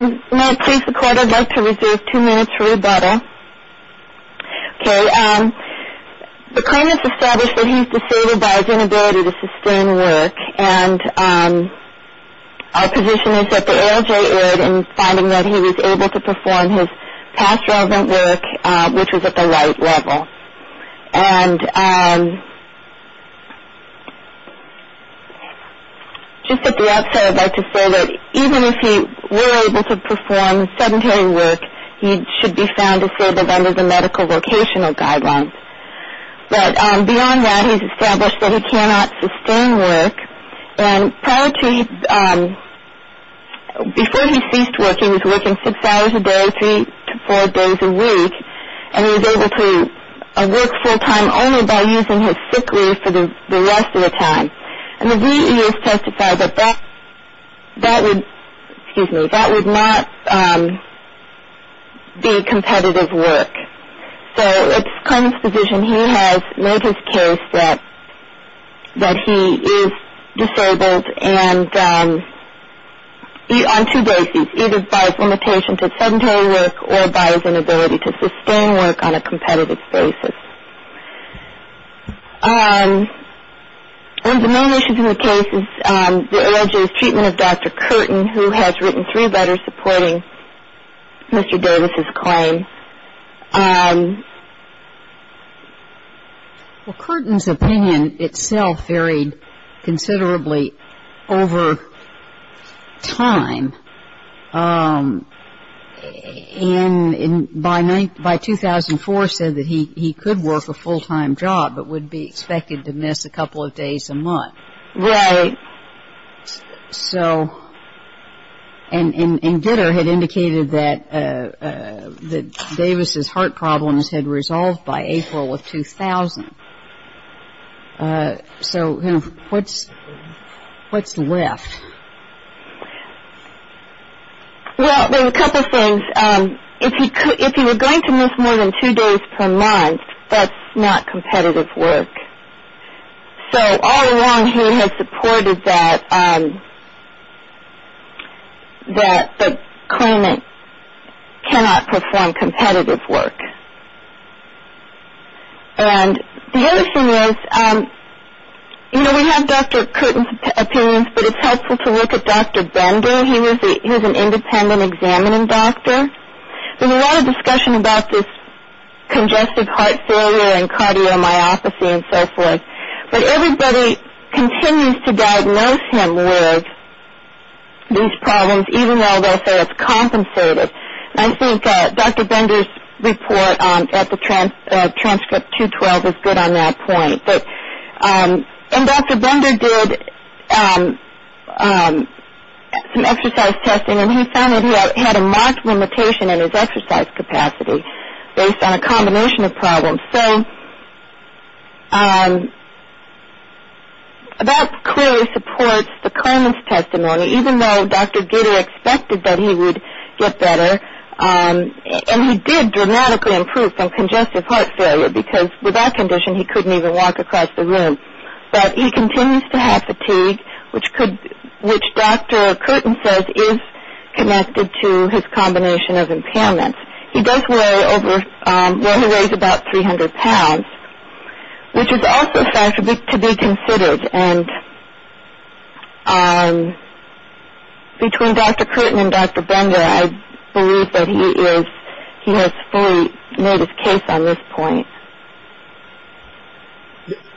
May I please record, I'd like to reserve two minutes for rebuttal. Okay, the claimant's established that he's disabled by his inability to sustain work and our position is that the ALJ erred in finding that he was able to perform his past relevant work, which was at the right level. And just at the outset, I'd like to say that even if he were able to perform sedentary work, he should be found disabled under the medical vocational guidelines. But beyond that, he's established that he cannot sustain work. And prior to, before he ceased working, he was working six hours a day, three to four days a week, and he was able to work full-time only by using his sick leave for the rest of the time. And the VEA has testified that that would not be competitive work. So it's the claimant's position he has made his case that he is disabled on two bases, either by his limitation to sedentary work or by his inability to sustain work on a competitive basis. One of the main issues in the case is the ALJ's treatment of Dr. Curtin, who has written three letters supporting Mr. Davis's claim. Well, Curtin's opinion itself varied considerably over time. And by 2004 said that he could work a full-time job but would be expected to miss a couple of days a month. Right. So, and Gitter had indicated that Davis's heart problems had resolved by April of 2000. So what's left? Well, there are a couple of things. If he were going to miss more than two days per month, that's not competitive work. So all along he had supported that the claimant cannot perform competitive work. And the other thing is, you know, we have Dr. Curtin's opinions, but it's helpful to look at Dr. Bender. He was an independent examining doctor. There's a lot of discussion about this congestive heart failure and cardiomyopathy and so forth. But everybody continues to diagnose him with these problems, even though they'll say it's compensative. And I think Dr. Bender's report at the transcript 212 is good on that point. And Dr. Bender did some exercise testing, and he found that he had a marked limitation in his exercise capacity based on a combination of problems. So that clearly supports the claimant's testimony, even though Dr. Gitter expected that he would get better. And he did dramatically improve from congestive heart failure, because with that condition he couldn't even walk across the room. But he continues to have fatigue, which Dr. Curtin says is connected to his combination of impairments. He does weigh over, well, he weighs about 300 pounds, which is also a factor to be considered. And between Dr. Curtin and Dr. Bender, I believe that he has fully made his case on this point.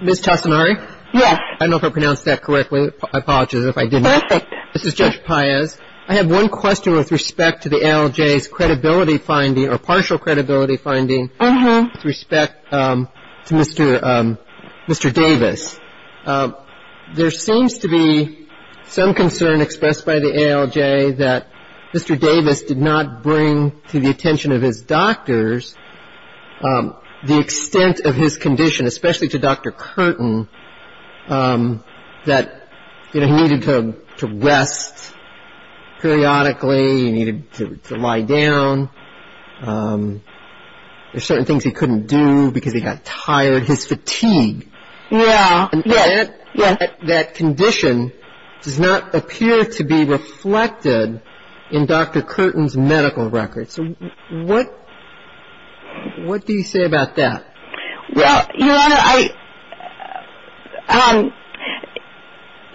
Ms. Tassinari? Yes. I don't know if I pronounced that correctly. I apologize if I didn't. Perfect. This is Judge Paez. I have one question with respect to the ALJ's credibility finding or partial credibility finding with respect to Mr. Davis. There seems to be some concern expressed by the ALJ that Mr. Davis did not bring to the attention of his doctors the extent of his condition, especially to Dr. Curtin, that he needed to rest periodically, he needed to lie down. There are certain things he couldn't do because he got tired, his fatigue. Yes. And that condition does not appear to be reflected in Dr. Curtin's medical records. What do you say about that? Well, Your Honor,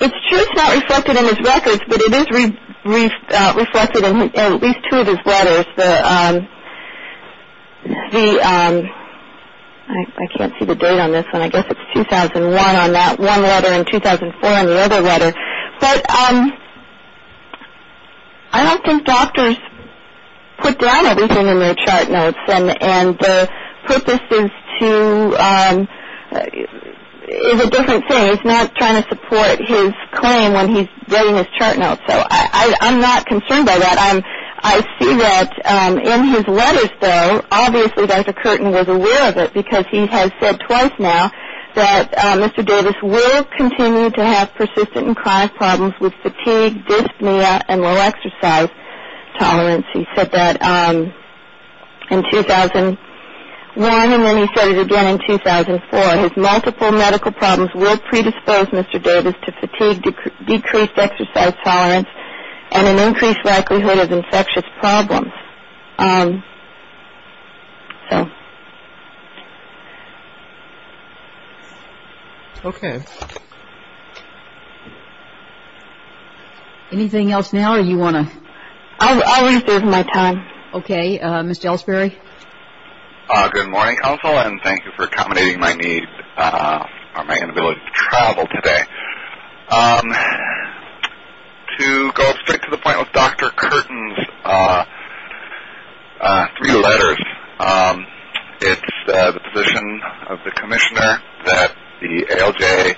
it's true it's not reflected in his records, but it is reflected in at least two of his letters. I can't see the date on this one. I guess it's 2001 on that one letter and 2004 on the other letter. But I don't think doctors put down everything in their chart notes, and the purpose is a different thing. It's not trying to support his claim when he's getting his chart notes. So I'm not concerned by that. I see that in his letters, though, obviously Dr. Curtin was aware of it because he has said twice now that Mr. Davis will continue to have persistent and chronic problems with fatigue, dyspnea, and low exercise tolerance. He said that in 2001, and then he said it again in 2004. His multiple medical problems will predispose Mr. Davis to fatigue, decreased exercise tolerance, and an increased likelihood of infectious problems. So. Okay. Anything else now, or do you want to? I'll reserve my time. Okay. Mr. Elsberry? Good morning, counsel, and thank you for accommodating my need for my inability to travel today. To go straight to the point with Dr. Curtin's three letters, it's the position of the commissioner that the ALJ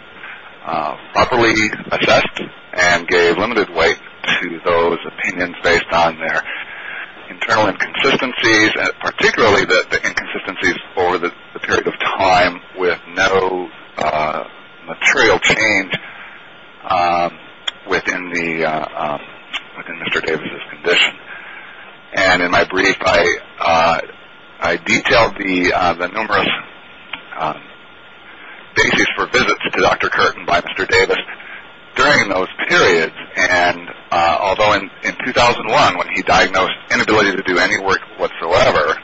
properly assessed and gave limited weight to those opinions based on their internal inconsistencies, particularly the inconsistencies over the period of time with no material change within Mr. Davis's condition. And in my brief, I detailed the numerous basis for visits to Dr. Curtin by Mr. Davis during those periods. And although in 2001, when he diagnosed inability to do any work whatsoever,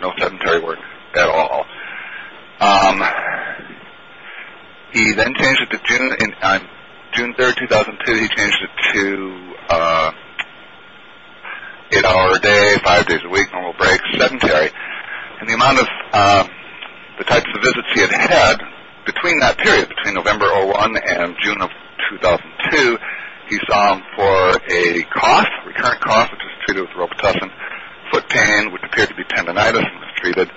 no sedentary work at all, he then changed it to June 3rd, 2002, he changed it to eight hour a day, five days a week, normal breaks, sedentary. And the amount of the types of visits he had had between that period, between November of 2001 and June of 2002, he saw him for a cost, a recurrent cost, which was treated with robitussin, foot pain, which appeared to be tendonitis and was treated,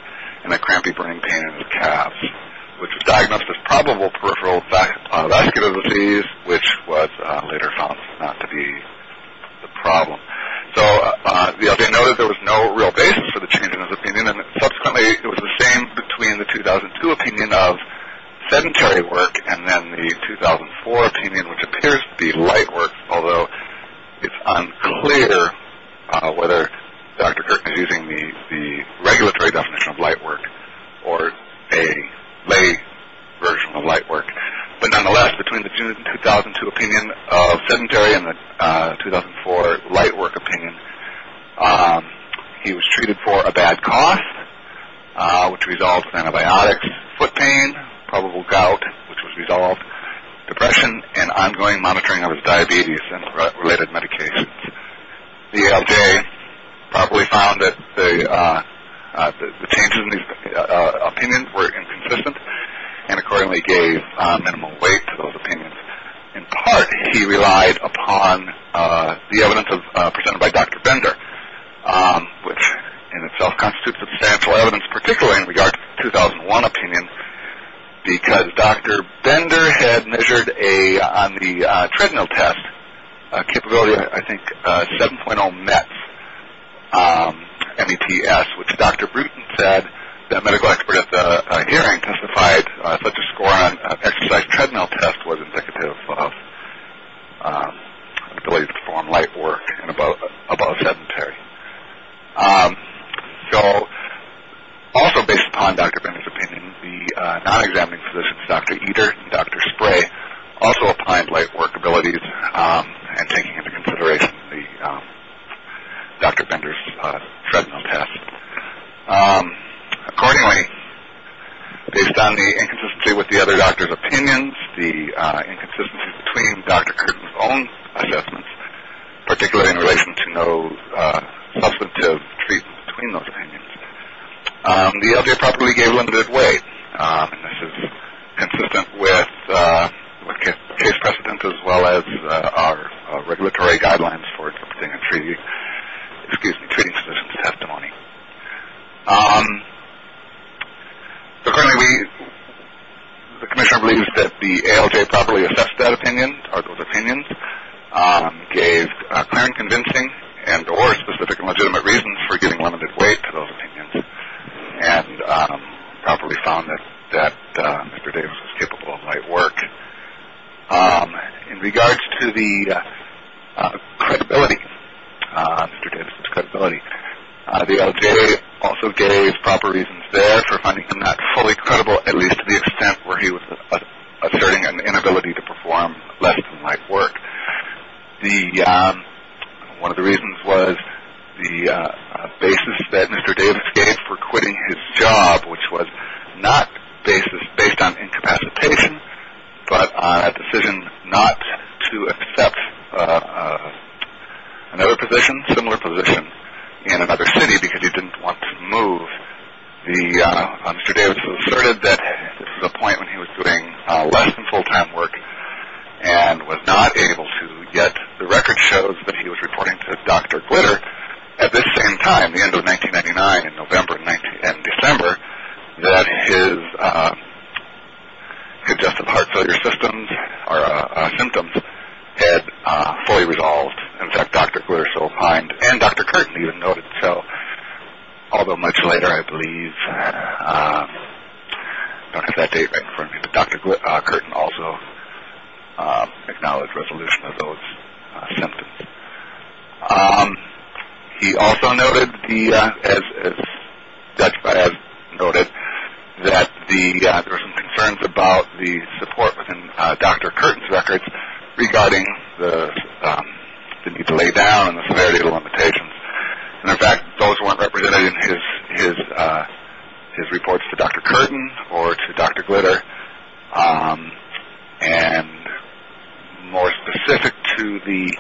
and a crampy burning pain in his calves, which was diagnosed as probable peripheral vascular disease, which was later found not to be the problem. So the FDA noted there was no real basis for the change in his opinion, and subsequently it was the same between the 2002 opinion of sedentary work and then the 2004 opinion, which appears to be light work, although it's unclear whether Dr. Curtin is using the regulatory definition of light work or a lay version of light work. But nonetheless, between the June 2002 opinion of sedentary and the 2004 light work opinion, he was treated for a bad cost, which resolved antibiotics, foot pain, probable gout, which was resolved, depression, and ongoing monitoring of his diabetes and related medications. The FDA probably found that the changes in his opinion were inconsistent and accordingly gave minimal weight to those opinions. In part, he relied upon the evidence presented by Dr. Bender, which in itself constitutes substantial evidence, particularly in regards to the 2001 opinion, because Dr. Bender had measured on the treadmill test a capability of, I think, 7.0 METS, M-E-T-S, which Dr. Bruton said that a medical expert at the hearing testified such a score on an exercise treadmill test was indicative of an ability to perform light work and above sedentary. So, also based upon Dr. Bender's opinion, the non-examining physicians, Dr. Eder and Dr. Spray, also applied light work abilities and taking into consideration Dr. Bender's treadmill test. Accordingly, based on the inconsistency with the other doctors' opinions, the inconsistencies between Dr. Curtin's own assessments, particularly in relation to no substantive treatment between those opinions, the FDA probably gave limited weight, and this is consistent with case precedent as well as our regulatory guidelines for treating physicians' testimony. So, currently, the commissioner believes that the ALJ properly assessed that opinion or those opinions, gave clear and convincing and or specific and legitimate reasons for giving limited weight to those opinions, and properly found that Mr. Davis was capable of light work. In regards to the credibility, Mr. Davis' credibility, the ALJ also gave proper reasons there for finding him not fully credible, at least to the extent where he was asserting an inability to perform less than light work. One of the reasons was the basis that Mr. Davis gave for quitting his job, which was not based on incapacitation but on a decision not to accept another position, similar position in another city because he didn't want to move. Mr. Davis asserted that this was a point when he was doing less than full-time work and was not able to get the record shows that he was reporting to Dr. Glitter. However, at this same time, the end of 1999, in November and December, that his congestive heart failure symptoms had fully resolved. In fact, Dr. Glitter so opined and Dr. Curtin even noted. So, although much later, I believe, I don't have that date right in front of me, but Dr. Curtin also acknowledged resolution of those symptoms. He also noted, as judged by us, noted that there were some concerns about the support within Dr. Curtin's records regarding the need to lay down and the severity of the limitations. And, in fact, those weren't represented in his reports to Dr. Curtin or to Dr. Glitter. And more specific to the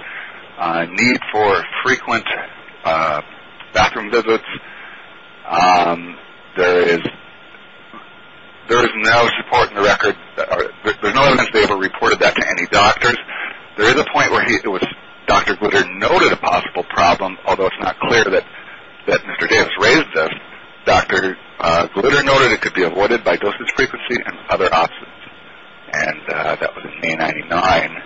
need for frequent bathroom visits, there is no support in the record. There's no evidence that he ever reported that to any doctors. There is a point where Dr. Glitter noted a possible problem, although it's not clear that Mr. Davis raised this. Dr. Glitter noted it could be avoided by dosage frequency and other options. And that was in May 1999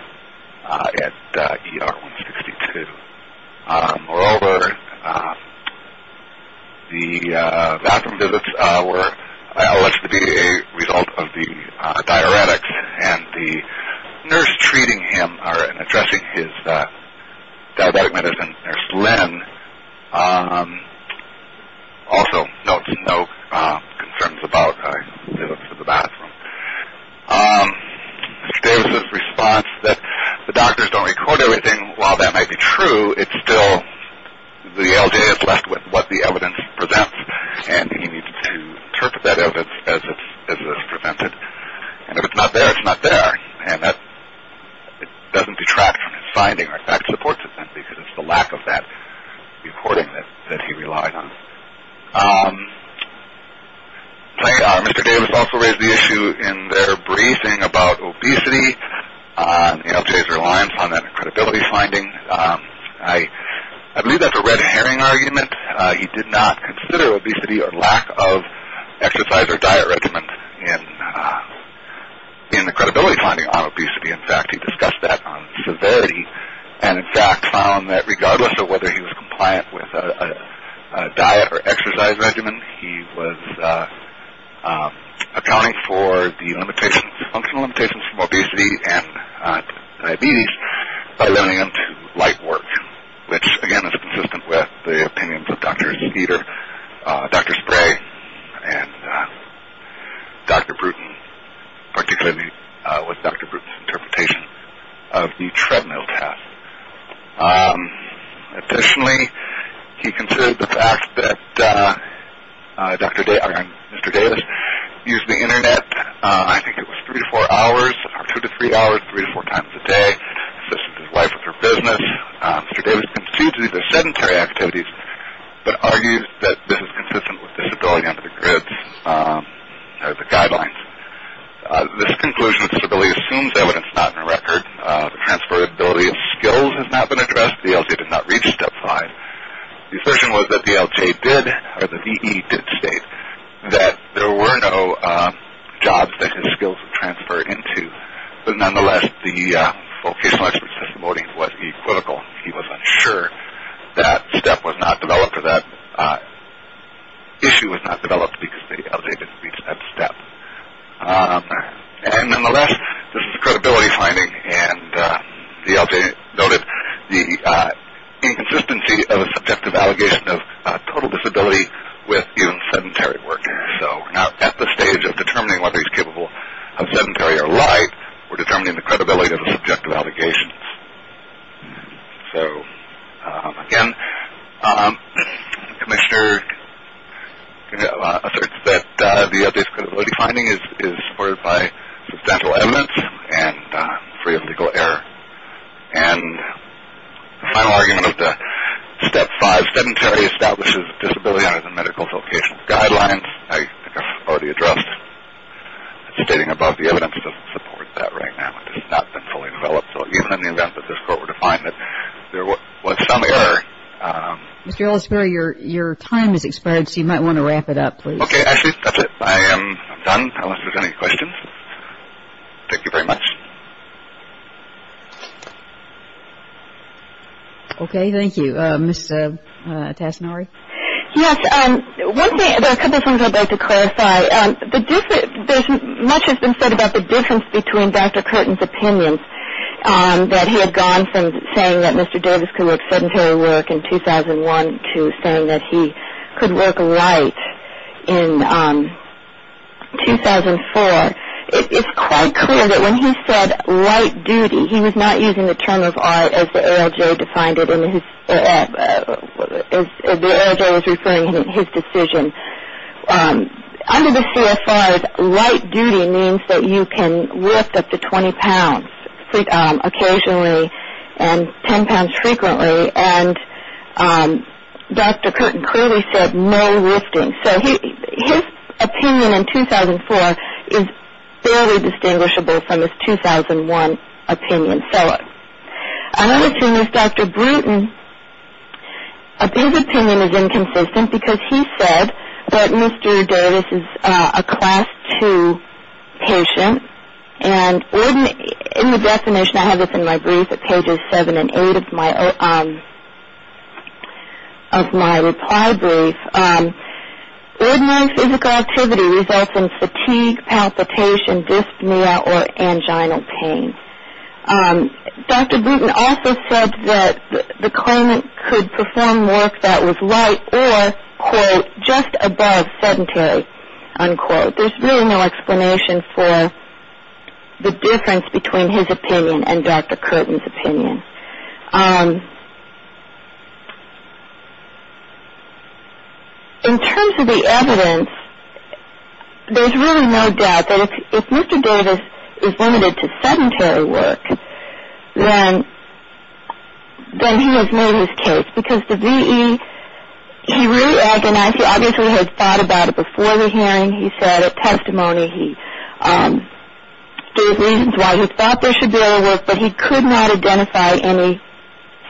at ER 162. Moreover, the bathroom visits were alleged to be a result of the diuretics and the nurse treating him or addressing his diabetic medicine, Nurse Lynn, also notes no concerns about visits to the bathroom. Mr. Davis' response that the doctors don't record everything, while that might be true, it's still the LJ is left with what the evidence presents, and he needs to interpret that evidence as it's presented. And if it's not there, it's not there. And that doesn't detract from his finding, or in fact supports it then, because it's the lack of that recording that he relied on. Mr. Davis also raised the issue in their briefing about obesity, LJ's reliance on that credibility finding. I believe that's a red herring argument. He did not consider obesity or lack of exercise or diet regimen in the credibility finding on obesity. In fact, he discussed that on severity and, in fact, found that regardless of whether he was compliant with a diet or exercise regimen, he was accounting for the functional limitations from obesity and diabetes by limiting them to light work, which, again, is consistent with the opinions of Dr. Speeder, Dr. Spray, and Dr. Bruton, particularly with Dr. Bruton's interpretation of the treadmill test. Additionally, he considered the fact that Mr. Davis used the Internet, I think it was three to four hours, two to three hours, three to four times a day, assisted his wife with her business. Mr. Davis conceded these are sedentary activities, but argued that this is consistent with disability under the GRIDS guidelines. This conclusion of disability assumes evidence not in the record. The transferability of skills has not been addressed. The LJ did not reach step five. The assertion was that the LJ did, or the VE did state that there were no jobs that his skills would transfer into. But nonetheless, the vocational expert's testimony was equivocal. He was unsure that step was not developed or that issue was not developed because the LJ didn't reach that step. And nonetheless, this is a credibility finding, and the LJ noted the inconsistency of a subjective allegation of total disability with even sedentary work. So we're not at the stage of determining whether he's capable of sedentary or light. We're determining the credibility of the subjective allegations. So, again, the commissioner asserts that the LJ's credibility finding is supported by substantial evidence and free of legal error. And the final argument of the step five, sedentary establishes disability under the medical vocational guidelines, I think I've already addressed. Stating above, the evidence doesn't support that right now. It has not been fully developed. So even in the event that this court were to find that there was some error. Mr. Ellisbury, your time has expired, so you might want to wrap it up, please. Okay, Ashley, that's it. I am done, unless there's any questions. Thank you very much. Okay, thank you. Ms. Tassinari? Yes, there are a couple of things I'd like to clarify. Much has been said about the difference between Dr. Curtin's opinions, that he had gone from saying that Mr. Davis could work sedentary work in 2001 to saying that he could work light in 2004. It's quite clear that when he said light duty, he was not using the term of art as the ALJ was referring to in his decision. Under the CFRs, light duty means that you can lift up to 20 pounds occasionally and 10 pounds frequently, and Dr. Curtin clearly said no lifting. So his opinion in 2004 is fairly distinguishable from his 2001 opinion. Another thing is Dr. Bruton, his opinion is inconsistent because he said that Mr. Davis is a Class II patient, and in the definition, I have this in my brief at pages 7 and 8 of my reply brief, ordinary physical activity results in fatigue, palpitation, dyspnea, or angina pain. Dr. Bruton also said that the claimant could perform work that was light or, quote, just above sedentary, unquote. There's really no explanation for the difference between his opinion and Dr. Curtin's opinion. In terms of the evidence, there's really no doubt that if Mr. Davis is limited to sedentary work, then he has made his case because the VE, he really agonized. He obviously had thought about it before the hearing. He said at testimony he gave reasons why he thought there should be other work, but he could not identify any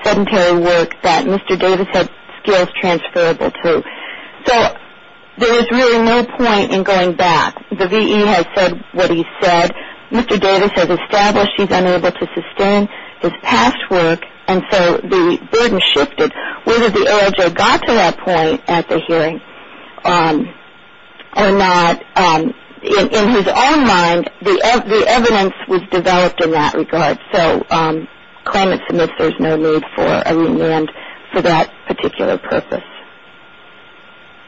sedentary work that Mr. Davis had skills transferable to. So there is really no point in going back. The VE has said what he said. Mr. Davis has established he's unable to sustain his past work, and so the burden shifted. Whether the OIJ got to that point at the hearing or not, in his own mind, the evidence was developed in that regard. So claimant submits there's no need for a remand for that particular purpose.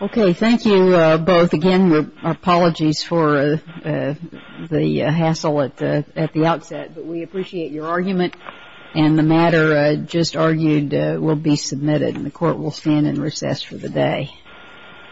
Okay, thank you both. Again, our apologies for the hassle at the outset, but we appreciate your argument. And the matter just argued will be submitted, and the Court will stand in recess for the day.